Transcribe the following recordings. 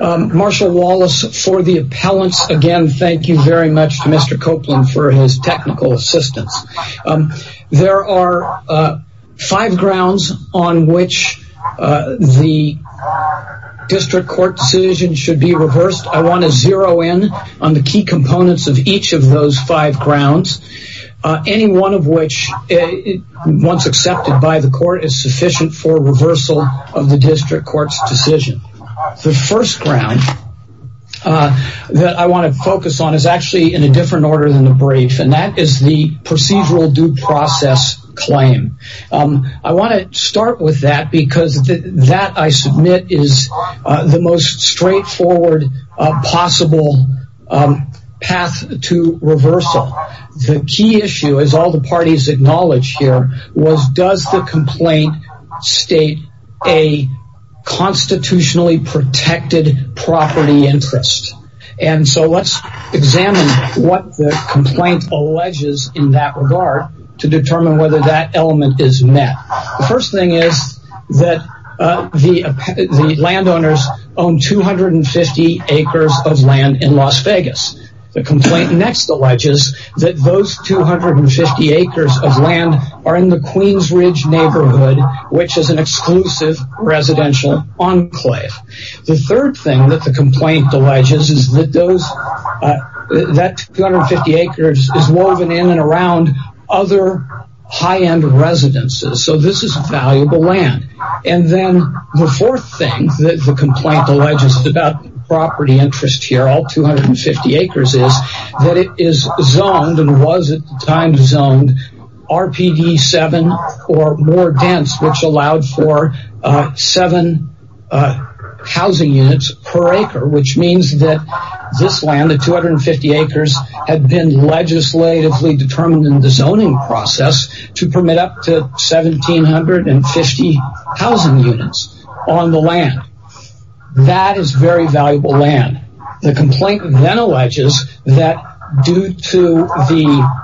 Marshall Wallace for the appellants. Again, thank you very much to Mr. Copeland for his technical assistance. There are five grounds on which the district court decision should be reversed. I want to zero in on the key components of each of those five grounds. Any one of which, once accepted by the The first ground that I want to focus on is actually in a different order than the brief and that is the procedural due process claim. I want to start with that because that I submit is the most straightforward possible path to reversal. The key issue, as all the parties acknowledge here, was does the property interest. Let's examine what the complaint alleges in that regard to determine whether that element is met. The first thing is that the landowners own 250 acres of land in Las Vegas. The complaint next alleges that those 250 acres of land are in the Queens Ridge neighborhood which is an exclusive residential enclave. The third thing that the complaint alleges is that those that 250 acres is woven in and around other high-end residences. So this is valuable land. And then the fourth thing that the complaint alleges about property interest here, all 250 acres, is that it is zoned and was at the time zoned RPD 7 or more dense which allowed for seven housing units per acre. Which means that this land, the 250 acres, had been legislatively determined in the zoning process to permit up to seventeen hundred and fifty housing units on the land. That is very valuable land. The complaint then alleges that due to the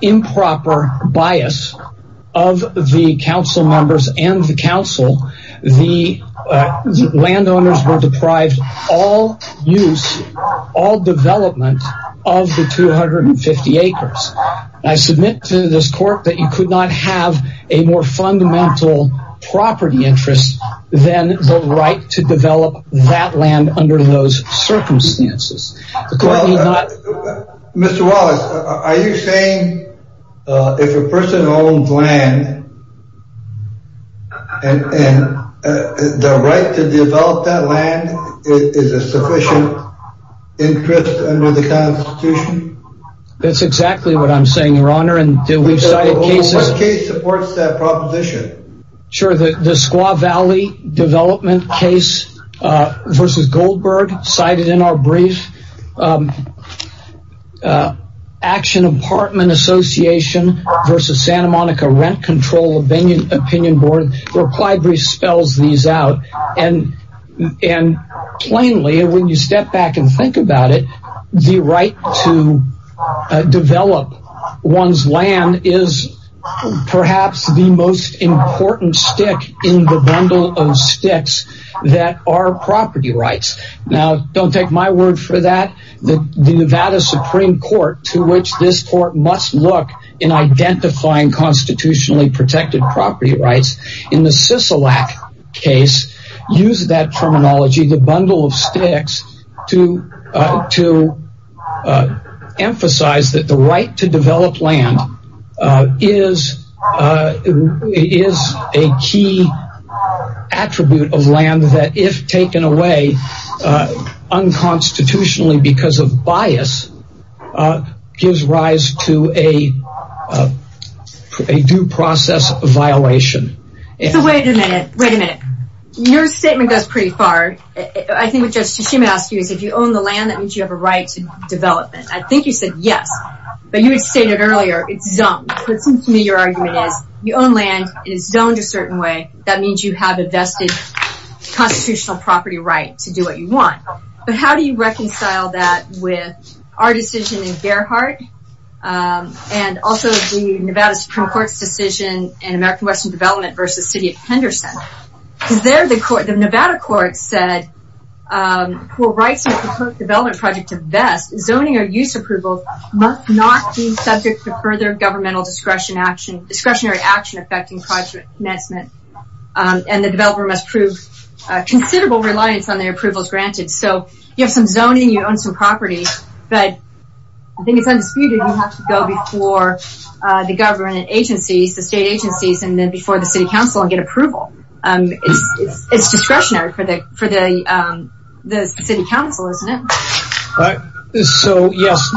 improper bias of the council members and the council, the landowners were deprived all use, all development of the 250 acres. I submit to this court that you could not have a more fundamental property interest than the right to develop that land under those circumstances. Mr. Wallace, are you saying if a person owns land, and the right to develop that land is a sufficient interest under the Constitution? That's exactly what I'm saying, your honor. And we've cited cases. What case supports that proposition? Sure, the Squaw Valley development case versus Goldberg cited in our brief. Action Apartment Association versus Santa Monica Rent Control Opinion Board reply brief spells these out. And plainly, when you step back and think about it, the right to develop one's land is perhaps the most important stick in the bundle of sticks that are property rights. Now, don't take my word for that. The Nevada Supreme Court, to which this court must look in identifying constitutionally protected property rights, in the Sisolak case, used that to emphasize that the right to develop land is a key attribute of land that, if taken away unconstitutionally because of bias, gives rise to a due process of violation. So wait a minute, wait a minute. Your statement goes pretty far. I think what you said yes, but you had stated earlier it's zoned. So it seems to me your argument is, you own land and it's zoned a certain way. That means you have a vested constitutional property right to do what you want. But how do you reconcile that with our decision in Gerhardt and also the Nevada Supreme Court's decision in American Western Development versus City of Henderson? Because there, the Nevada court said, who writes the proposed development project to vest, zoning or use approvals must not be subject to further governmental discretionary action affecting project commencement. And the developer must prove considerable reliance on their approvals granted. So you have some zoning, you own some property, but I think it's undisputed you have to go before the government agencies, the state agencies, and then before the City Council and get approval. It's discretionary for the City Council, isn't it? So yes,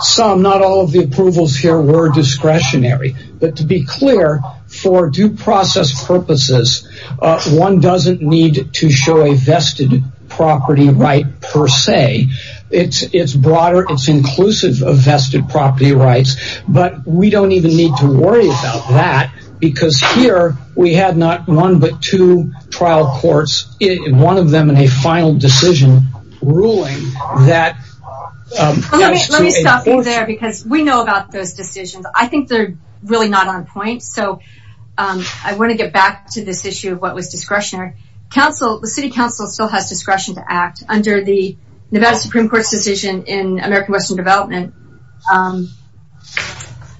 some, not all of the approvals here were discretionary. But to be clear, for due process purposes, one doesn't need to show a vested property right per se. It's broader, it's inclusive of vested property rights. But we don't even need to worry about that because here we had not one but two trial courts, one of them in a final decision ruling that... Let me stop you there because we know about those decisions. I think they're really not on point. So I want to get back to this issue of what was discretionary. Council, the City Council still has discretion to act under the Nevada Supreme Court's decision in American Western Development.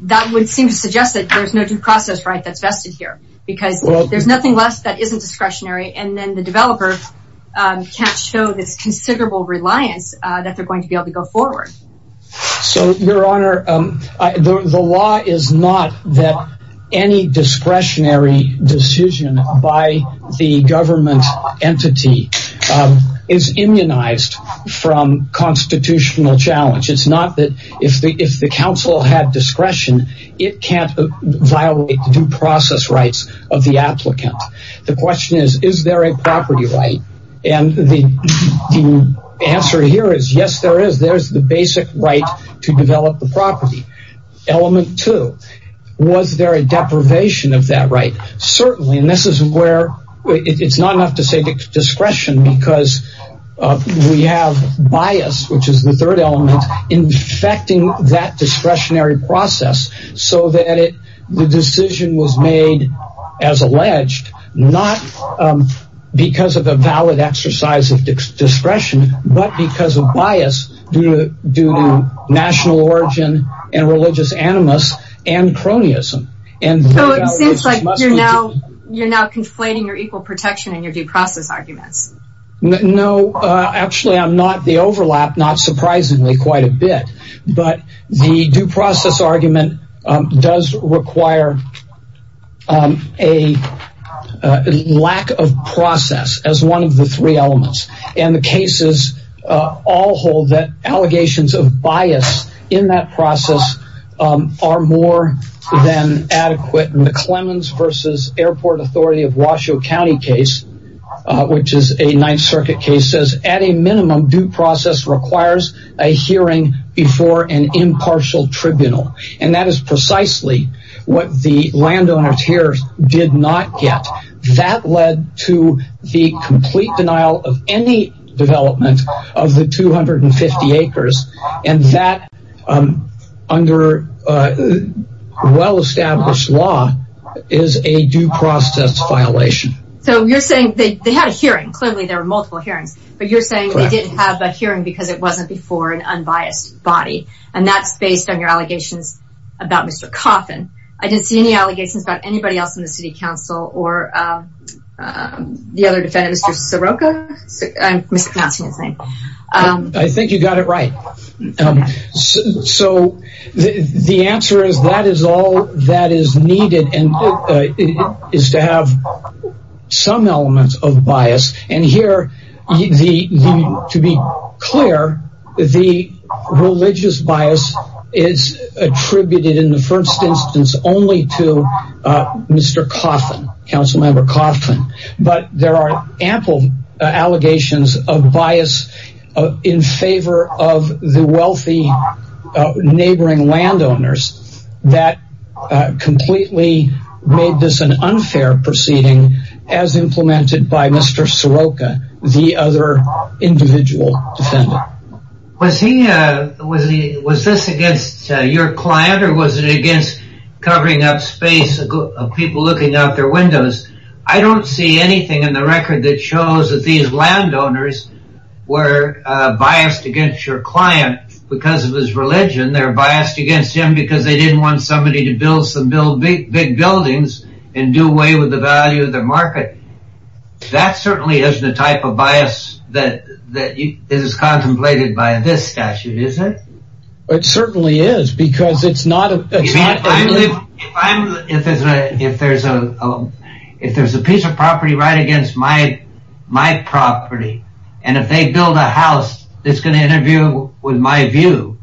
That would seem to suggest that there's no due process right that's vested here because there's nothing left that isn't discretionary and then the developer can't show this considerable reliance that they're going to be able to go forward. So, Your Honor, the law is not that any discretionary decision by the government entity is immunized from constitutional challenge. It's not that if the council had discretion, it can't violate due process rights of the applicant. The question is, is there a property right? And the answer here is, yes, there is. There's the basic right to develop the property. Element two, was there a deprivation of that right? Certainly, and this is where it's not enough to say discretion because we have bias, which is the third element, infecting that discretionary process so that the decision was made as alleged, not because of a valid exercise of discretion, but because of bias due to national origin and religious animus and cronyism. And so it seems like you're now conflating your equal protection and your due process arguments. No, actually, I'm not. The overlap, not surprisingly, quite a bit, but the due process argument does require a lack of process as one of the three are more than adequate. And the Clemens versus airport authority of Washoe County case, which is a Ninth Circuit case, says at a minimum, due process requires a hearing before an impartial tribunal. And that is precisely what the landowners here did not get. That led to the complete denial of any development of the 250 acres. And that under well-established law is a due process violation. So you're saying they had a hearing, clearly there were multiple hearings, but you're saying they didn't have a hearing because it wasn't before an unbiased body. And that's based on your allegations about Mr. Coffin. I didn't see any allegations about anybody else in the city council or the other defendant, Mr. Soroka, I'm mispronouncing his name. I think you got it right. So the answer is that is all that is needed is to have some elements of bias. And here, to be clear, the religious bias is attributed in the first instance only to Mr. Coffin, council member Coffin. But there are ample allegations of bias in favor of the wealthy neighboring landowners that completely made this an unfair proceeding as implemented by Mr. Soroka, the other individual defendant. Was this against your client or was it against covering up space of people looking out their windows? I don't see anything in the record that shows that these landowners were biased against your client because of his religion. They're biased against him because they didn't want somebody to build some big buildings and do away with the value of their market. That certainly isn't the type of because it's not. If there's a if there's a if there's a piece of property right against my property and if they build a house that's going to interview with my view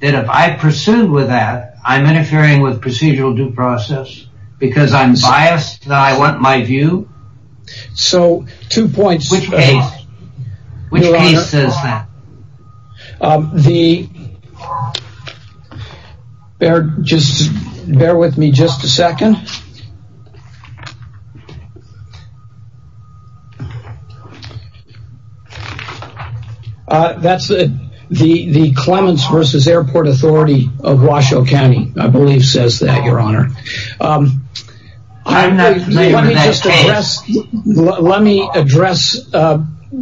that if I pursue with that, I'm interfering with procedural due process because I'm biased that I want my view. So two bear just bear with me just a second. That's the the the Clemens versus Airport Authority of Washoe County. I believe says that your honor. Let me address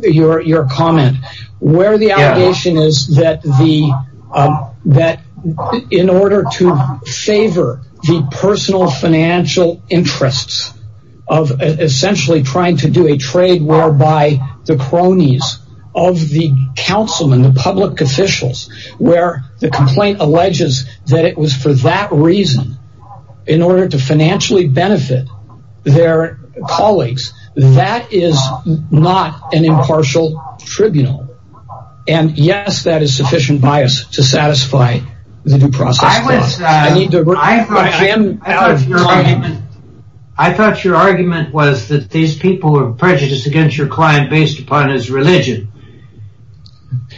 your comment where the allegation is that the that in order to favor the personal financial interests of essentially trying to do a trade whereby the cronies of the councilman the public officials where the complaint alleges that it was for that reason in order to financially benefit their colleagues. That is not an impartial tribunal. And yes, that is sufficient bias to satisfy the due process. I thought your argument was that these people were prejudiced against your client based upon his religion.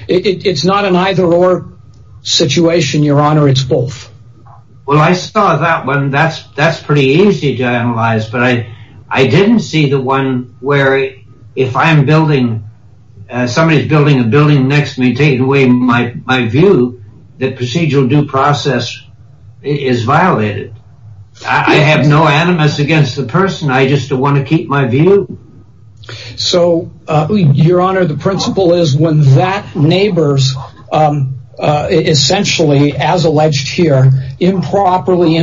It's not an either or situation, your honor. It's both. Well, I saw that one. That's that's pretty easy to analyze. But I I didn't see the one where if I'm building somebody's building a building next to me, take away my my view that procedural due process is violated. I have no animus against the person. I just want to keep my view. So your honor, the principle is when that neighbors essentially, as alleged here, improperly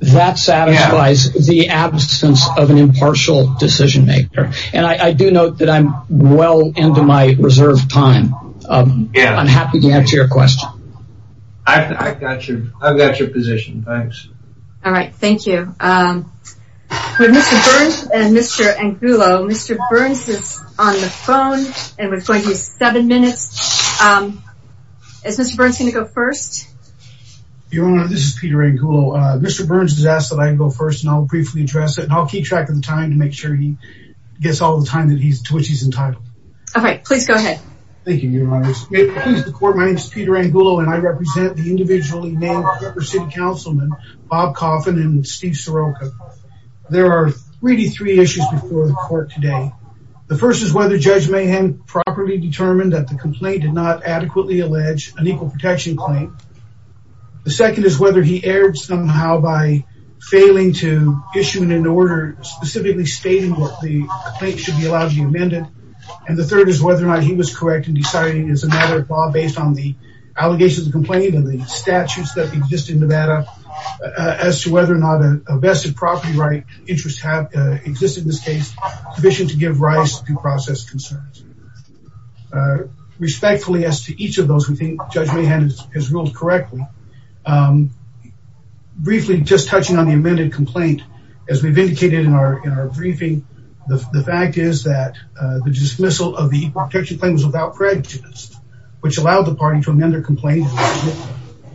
that satisfies the absence of an impartial decision maker. And I do note that I'm well into my reserve time. I'm happy to answer your question. I've got your I've got your position. Thanks. All right. Thank you. Mr. Burns and Mr. Angulo. Mr. Burns is on the phone and we're going to give you seven minutes. Is Mr. Burns going to go first? Your honor, this is Peter Angulo. Mr. Burns has asked that I go first and I'll briefly address it. And I'll keep track of the time to make sure he gets all the time that he's to which he's entitled. All right, please go ahead. Thank you, your honor. My name is Peter Angulo and I represent the individually named Cooper City Councilman, Bob Coffin and Steve Soroka. There are really three issues before the court today. The first is whether Judge Mahan properly determined that the complaint did not adequately allege an equal protection claim. The second is whether he erred somehow by failing to issue an order specifically stating what the complaint should be allowed to be amended. And the third is whether or not he was correct in deciding as a matter of law based on the allegations of complaint and the statutes that exist in Nevada as to whether or not a vested property right interest have existed in this case, the vision to give rise to due process concerns. Respectfully as to each of those who think Judge Mahan has ruled correctly, briefly just touching on the amended complaint, as we've indicated in our briefing, the fact is that the dismissal of the equal protection claim was without prejudice, which allowed the party to amend their complaint.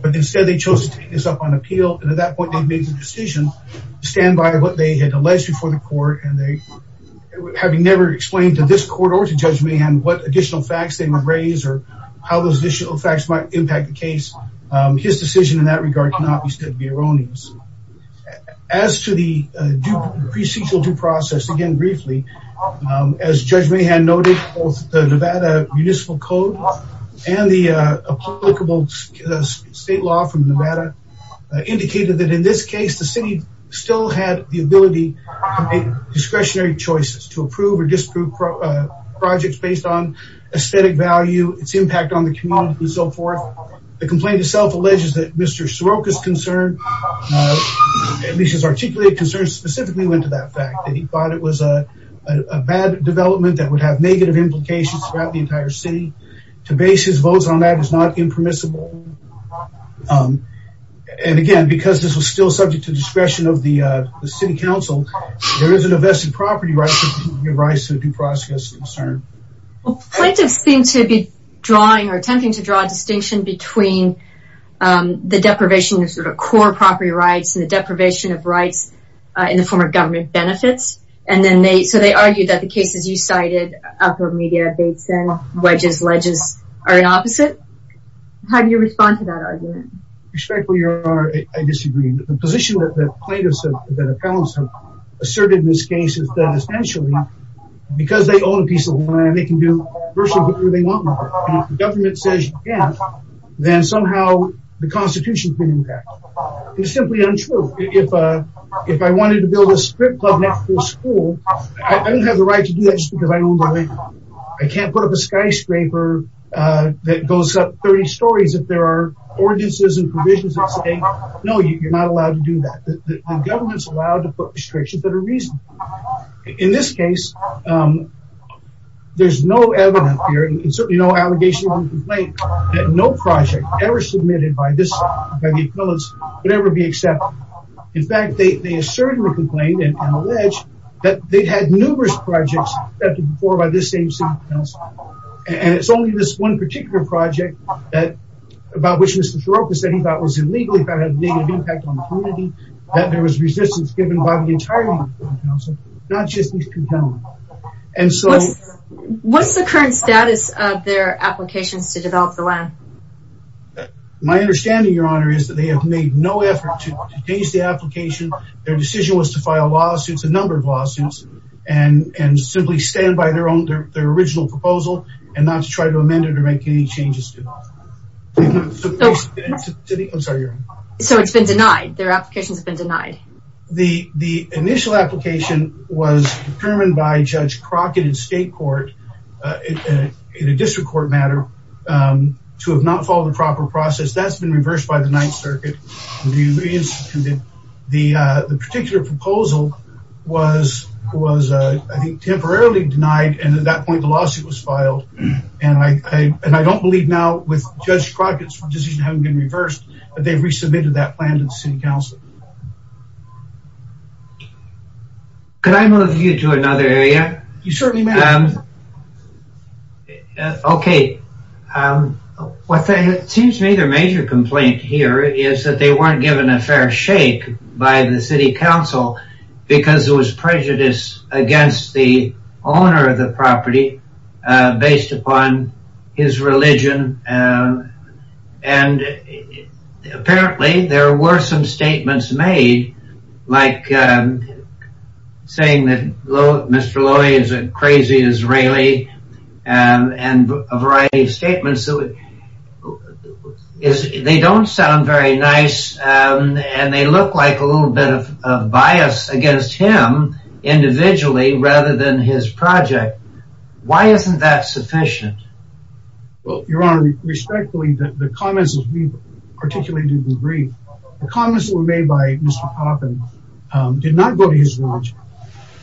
But instead, they chose to take this up on appeal. And at that point, they made the decision to stand by what they had alleged before the court. And they, having never explained to this court or to Judge Mahan what additional facts they would raise or how those additional facts might impact the case. His decision in that regard cannot be said to be erroneous. As to the due procedural due process, again, briefly, as Judge Mahan noted, both the the city still had the ability to make discretionary choices to approve or disprove projects based on aesthetic value, its impact on the community and so forth. The complaint itself alleges that Mr. Soroka's concern, at least his articulated concern specifically went to that fact that he thought it was a bad development that would have negative implications throughout the entire city. To base his votes on that is not impermissible. And again, because this was still subject to discretion of the city council, there isn't a vested property right to give rights to the due process concern. Well, plaintiffs seem to be drawing or attempting to draw a distinction between the deprivation of sort of core property rights and the deprivation of rights in the form of government benefits. And then they so they argued that the cases you cited up for media updates and wedges ledges are the opposite. How do you respond to that argument? Respectfully, your honor, I disagree. The position that the plaintiffs have asserted in this case is that essentially, because they own a piece of land, they can do virtually whatever they want with it. If the government says you can't, then somehow the constitution can impact. It's simply untrue. If I wanted to build a strip club next to the school, I don't have the right to do that just because I own the land. I can't put up a skyscraper that goes up 30 stories if there are ordinances and provisions that say, no, you're not allowed to do that. The government's allowed to put restrictions that are reasonable. In this case, there's no evidence here, and certainly no allegation or complaint, that no project ever submitted by the appellants would ever be accepted. In fact, they asserted a complaint and alleged that they'd had numerous projects accepted before by this same city council. It's only this one particular project, about which Mr. Siropa said he thought was illegal, had a negative impact on the community, that there was resistance given by the entirety of the city council, not just Mr. Connelly. What's the current status of their applications to develop the land? My understanding, Your Honor, is that they have made no effort to change the application. Their decision was to file lawsuits, a number of lawsuits, and simply stand by their original proposal and not to try to amend it or make any changes to it. So it's been denied? Their applications have been denied? The initial application was determined by Judge Crockett in state court, in a district court matter, to have not followed the proper process. That's been reversed by the Ninth Circuit. The particular proposal was, I think, temporarily denied, and at that point the lawsuit was filed. And I don't believe now, with Judge Crockett's decision having been reversed, that they've resubmitted that plan to the city council. Could I move you to another area? You certainly may. Okay. It seems to me their major complaint here is that they weren't given a fair shake by the city council because there was prejudice against the owner of the property based upon his religion, and apparently there were some statements made, like saying that Mr. Lowy is a crazy Israeli, and a variety of statements. They don't sound very nice, and they look like a little bit of bias against him individually rather than his project. Why isn't that sufficient? Your Honor, respectfully, the comments that we made by Mr. Poppin did not go to his village.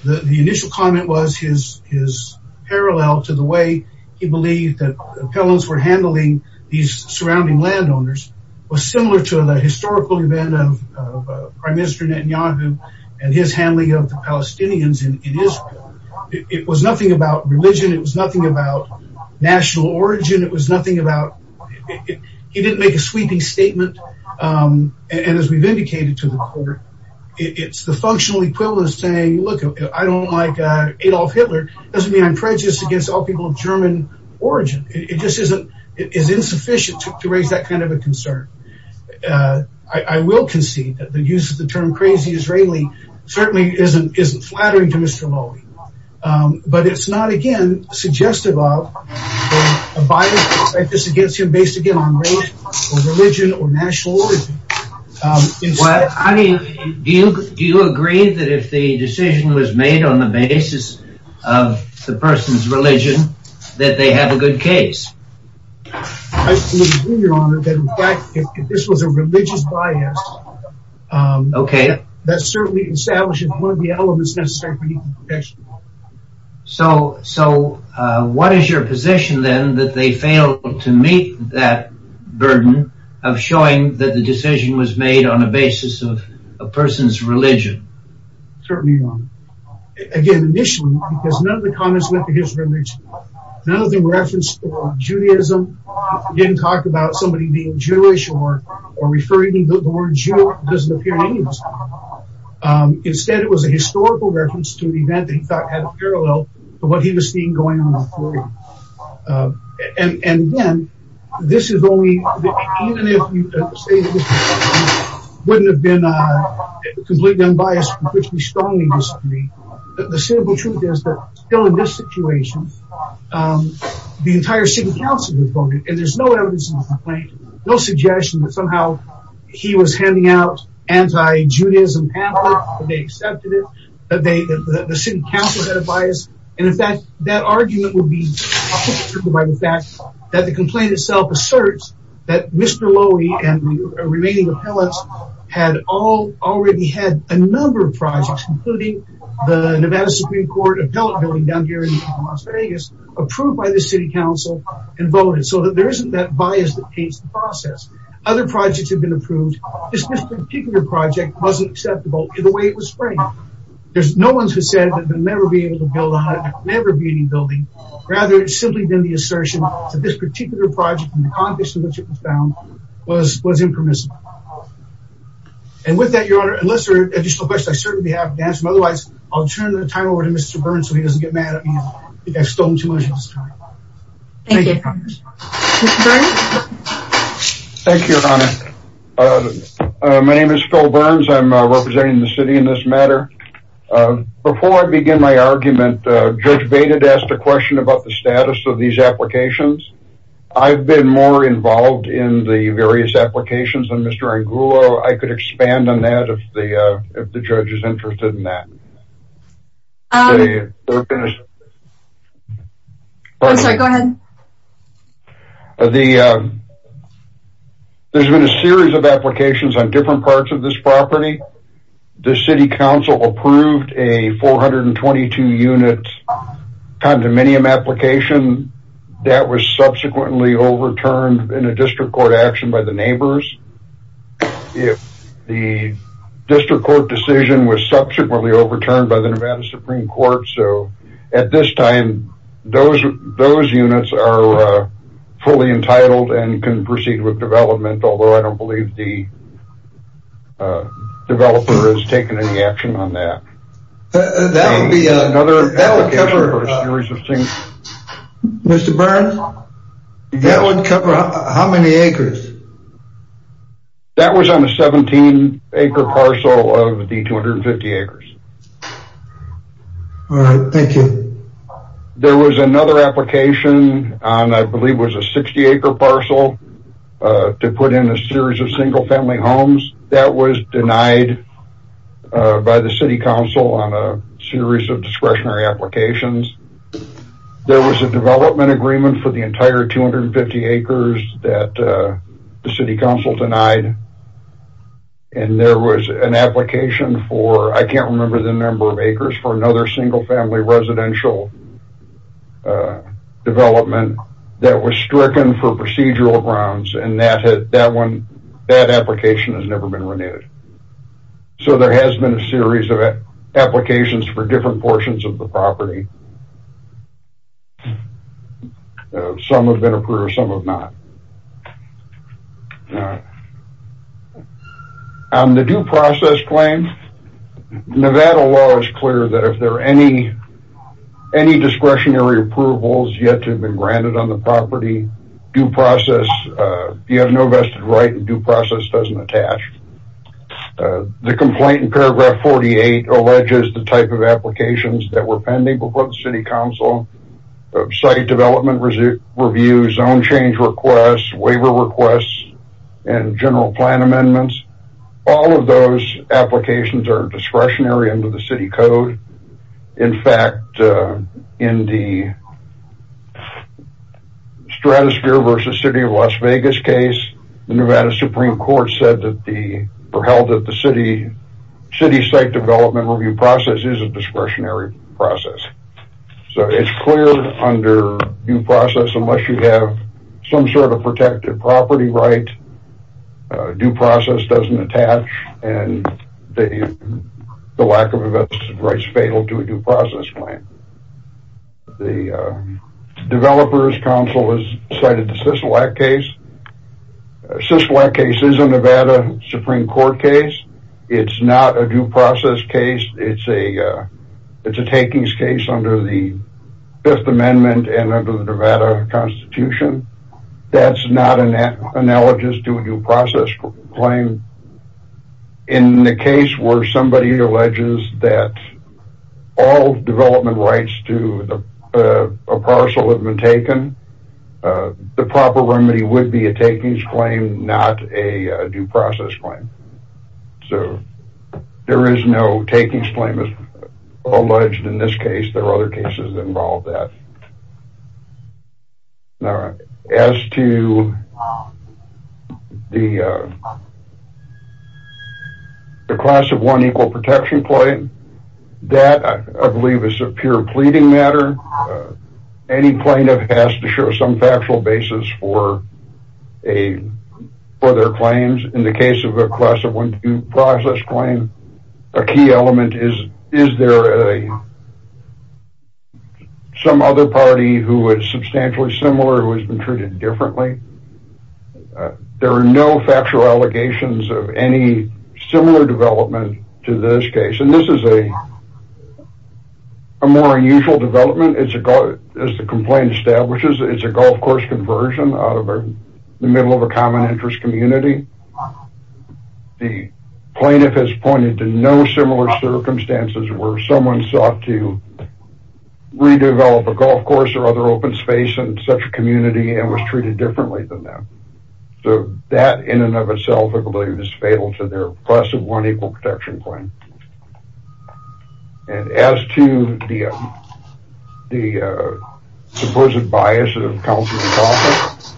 The initial comment was his parallel to the way he believed that the appellants were handling these surrounding landowners was similar to the historical event of Prime Minister Netanyahu and his handling of the Palestinians in Israel. It was nothing about religion. It was nothing about national origin. It was nothing about... As we've indicated to the court, it's the functional equivalent of saying, look, I don't like Adolf Hitler. It doesn't mean I'm prejudiced against all people of German origin. It just isn't... It is insufficient to raise that kind of a concern. I will concede that the use of the term crazy Israeli certainly isn't flattering to Mr. Lowy, but it's not, again, suggestive of a bias against him based, again, on race or religion or national origin. Well, do you agree that if the decision was made on the basis of the person's religion that they have a good case? I fully agree, Your Honor, that in fact, if this was a religious bias, okay, that certainly establishes one of the elements necessary for protection. So what is your position then that they failed to meet that burden of showing that the decision was made on the basis of a person's religion? Certainly, Your Honor. Again, initially, because none of the comments went to his religion, none of them referenced Judaism, didn't talk about somebody being Jewish or referring to the word Jew. It doesn't appear in any of his comments. Instead, it was a historical reference to an event that he thought had a parallel to what he was seeing going on in Florida. And again, this is only... Even if you say that Mr. Lowy wouldn't have been completely unbiased, which we strongly disagree, the simple truth is that still in this situation, the entire city council has voted, and there's no evidence in the complaint, no suggestion that somehow he was handing out anti-Judaism pamphlets, that they accepted it, that the city council had a bias. And in fact, that argument would be upholstered by the fact that the complaint itself asserts that Mr. Lowy and the remaining appellants had already had a number of projects, including the Nevada Supreme Court appellate building down here in Las Vegas, approved by the city council and voted, so that there isn't that bias that paints the process. Other projects have been approved, just this particular project wasn't acceptable in the way it was framed. There's no one who said that they'll never be able to build a 100, never be any building. Rather, it's simply been the assertion that this particular project and the condition in which it was found was impermissible. And with that, Your Honor, unless there are additional questions, I'd certainly be happy to answer them. Otherwise, I'll turn the time over to Mr. Burns, so he doesn't get mad at me if I've stolen too much of his time. Thank you. Thank you, Your Honor. My name is Phil Burns. I'm representing the city in this matter. Before I begin my argument, Judge Bated asked a question about the status of these applications. I've been more involved in the various applications than Mr. Angulo. I could expand on that if the judge is interested in that. I'm sorry, go ahead. There's been a series of applications on different parts of this property. The city council approved a 422-unit condominium application that was subsequently overturned in a district court action by the neighbors. The district court decision was subsequently overturned by the Nevada Supreme Court, so at this time, those units are fully entitled and can proceed with development, although I don't believe the developer has taken any action on that. Mr. Burns, that would cover how many acres? That was on a 17-acre parcel of the 250 acres. All right, thank you. There was another application on, I believe, was a 60-acre parcel to put in a series of single-family homes. That was denied by the city council on a series of discretionary applications. There was a development agreement for the entire 250 acres that the city council denied, and there was an application for, I can't remember the number of acres, for another single-family residential development that was stricken for procedural grounds, and that application has never been renewed. So there has been a series of applications for different portions of the property. Some have been approved, some have not. All right. On the due process claim, Nevada law is clear that if there are any discretionary approvals yet to have been granted on the property, due process, you have no vested right, and due process doesn't attach. The complaint in paragraph 48 alleges the type of applications that were pending before the city council, site development review, zone change requests, waiver requests, and general plan amendments. All of those applications are discretionary under the city code. In fact, in the Stratosphere versus City of Las Vegas case, the Nevada Supreme Court said that the, or held that the city site development review process is a discretionary process. So it's clear under due some sort of protected property right, due process doesn't attach, and the lack of a vested right is fatal to a due process claim. The developers council has cited the Sisolak case. Sisolak case is a Nevada Supreme Court case. It's not a due process case. It's a takings case under the Fifth Amendment and under the Nevada Constitution. That's not analogous to a due process claim. In the case where somebody alleges that all development rights to a parcel have been taken, the proper remedy would be a takings claim, not a due process claim. So there is no takings claim alleged in this case. There are other cases that involve that. As to the class of one equal protection claim, that I believe is a pure pleading matter. Any plaintiff has to show some Is there some other party who is substantially similar who has been treated differently? There are no factual allegations of any similar development to this case, and this is a more unusual development. As the complaint establishes, it's a golf course conversion out of the middle of a common interest community. The plaintiff has pointed to no similar circumstances where someone sought to redevelop a golf course or other open space in such a community and was treated differently than them. So that in and of itself I believe is fatal to their class of one equal protection claim. And as to the supposed bias of council and council,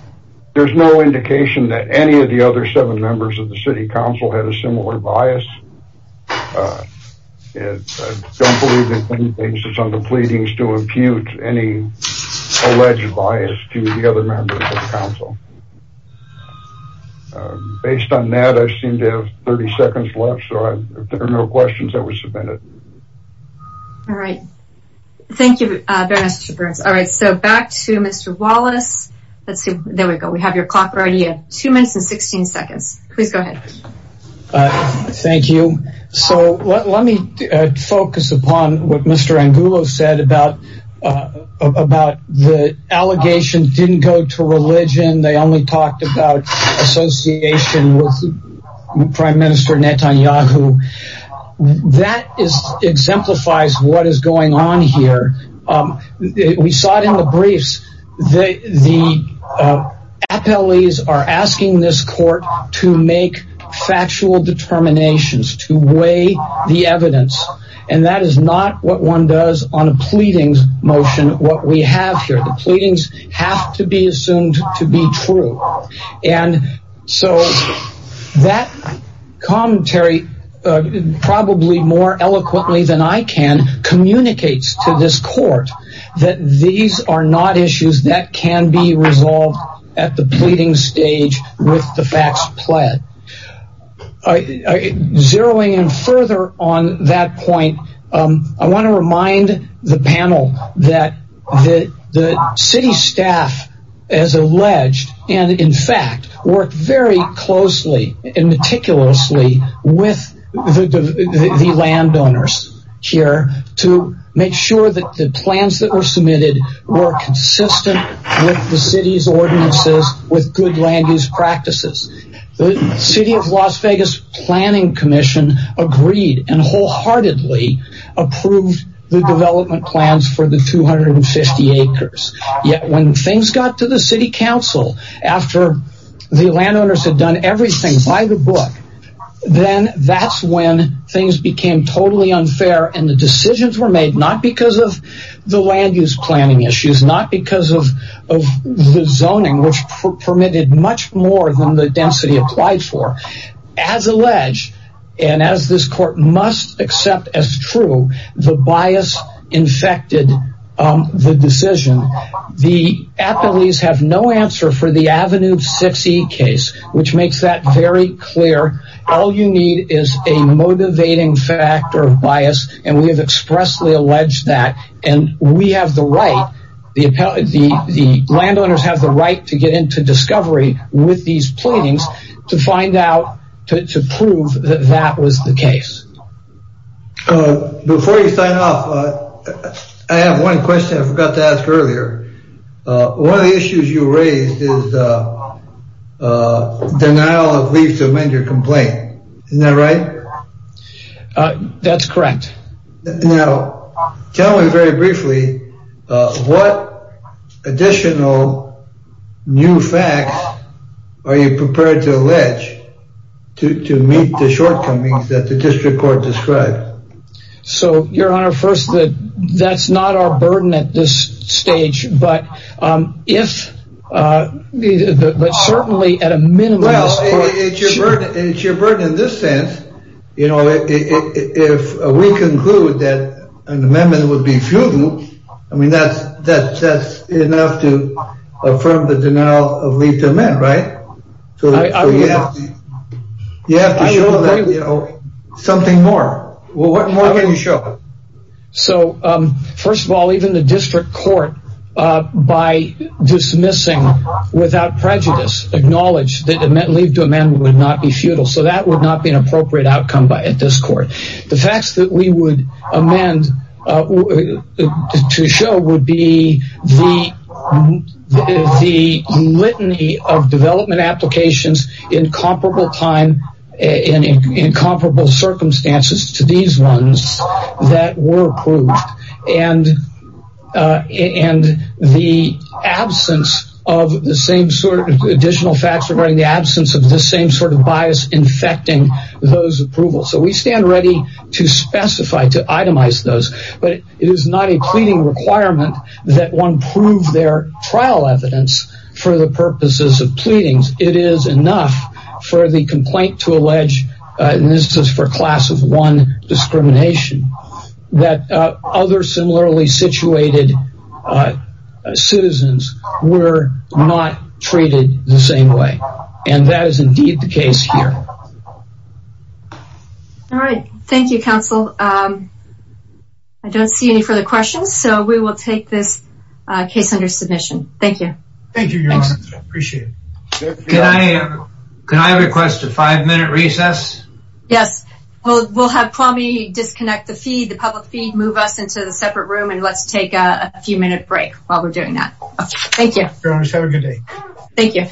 there's no indication that any of the other seven members of the city council had a similar bias. I don't believe that any basis on the pleadings to impute any alleged bias to the other members of the council. Based on that, I seem to have 30 seconds left, so if there are no questions, I will submit it. All right. Thank you very much, Mr. Burns. All right, so back to Mr. Wallace. Let's see. There we go. We have your clock ready. You have two minutes and 16 seconds. Please go ahead. Let me focus upon what Mr. Angulo said about the allegations didn't go to religion. They only talked about association with Prime Minister Netanyahu. That exemplifies what is going on here. We saw it in the briefs. The appellees are asking this court to make factual determinations, to weigh the evidence, and that is not what one does on a pleadings motion, what we have here. The pleadings have to be assumed to be true. And so that commentary, probably more eloquently than I can, communicates to this court that these are not issues that can be resolved at the pleading stage with the facts pled. Zeroing in further on that point, I want to remind the panel that the city staff, as alleged, and in fact, worked very closely and meticulously with the landowners here to make sure that the plans that were submitted were consistent with the city's ordinances with good land use practices. The city of Las Vegas planning commission agreed and wholeheartedly approved the development plans for the 250 acres. Yet when things got to the city council, after the landowners had done everything by the book, then that's when things became totally unfair and the decisions were made not because of the land use planning issues, not because of the zoning, which permitted much more than the density applied for. As alleged, and as this court must accept as true, the bias infected the decision. The appellees have no answer for the Avenue 6E case, which makes that very clear. All you need is a motivating factor of bias, and we have expressly alleged that, and we have the right, the landowners have the right to get into discovery with these pleadings to find out, to prove that that was the case. Before you sign off, I have one question I forgot to ask earlier. One of the issues you raised is denial of leave to amend your complaint, isn't that right? That's correct. Now tell me very briefly, what additional new facts are you prepared to allege to meet the shortcomings that the district court described? So your honor, first that that's not our burden at this stage, but if, but certainly at a minimum. Well it's your burden in this sense, you know, if we conclude that an amendment would be feudal, I mean that's enough to affirm the denial of leave to amend, right? So you have to show something more. What more can you show? So first of all, even the district court, by dismissing without prejudice, acknowledged that leave to amend would not be feudal, so that would not be an appropriate outcome at this court. The facts that we would amend to show would be the litany of development applications in comparable circumstances to these ones that were approved, and the absence of the same sort of bias infecting those approvals. So we stand ready to specify, to itemize those, but it is not a pleading requirement that one prove their trial evidence for the purposes of pleadings. It is enough for the complaint to allege, and this is for class of one discrimination, that other similarly situated citizens were not treated the same way, and that is indeed the case here. All right, thank you counsel. I don't see any further questions, so we will take this case under submission. Thank you. Thank you your honor, appreciate it. Can I request a five minute recess? Yes, we'll have Kwame disconnect the feed, the public feed, move us into the separate room, and let's take a few minute break while we're doing that. Thank you. Have a good day. Thank you.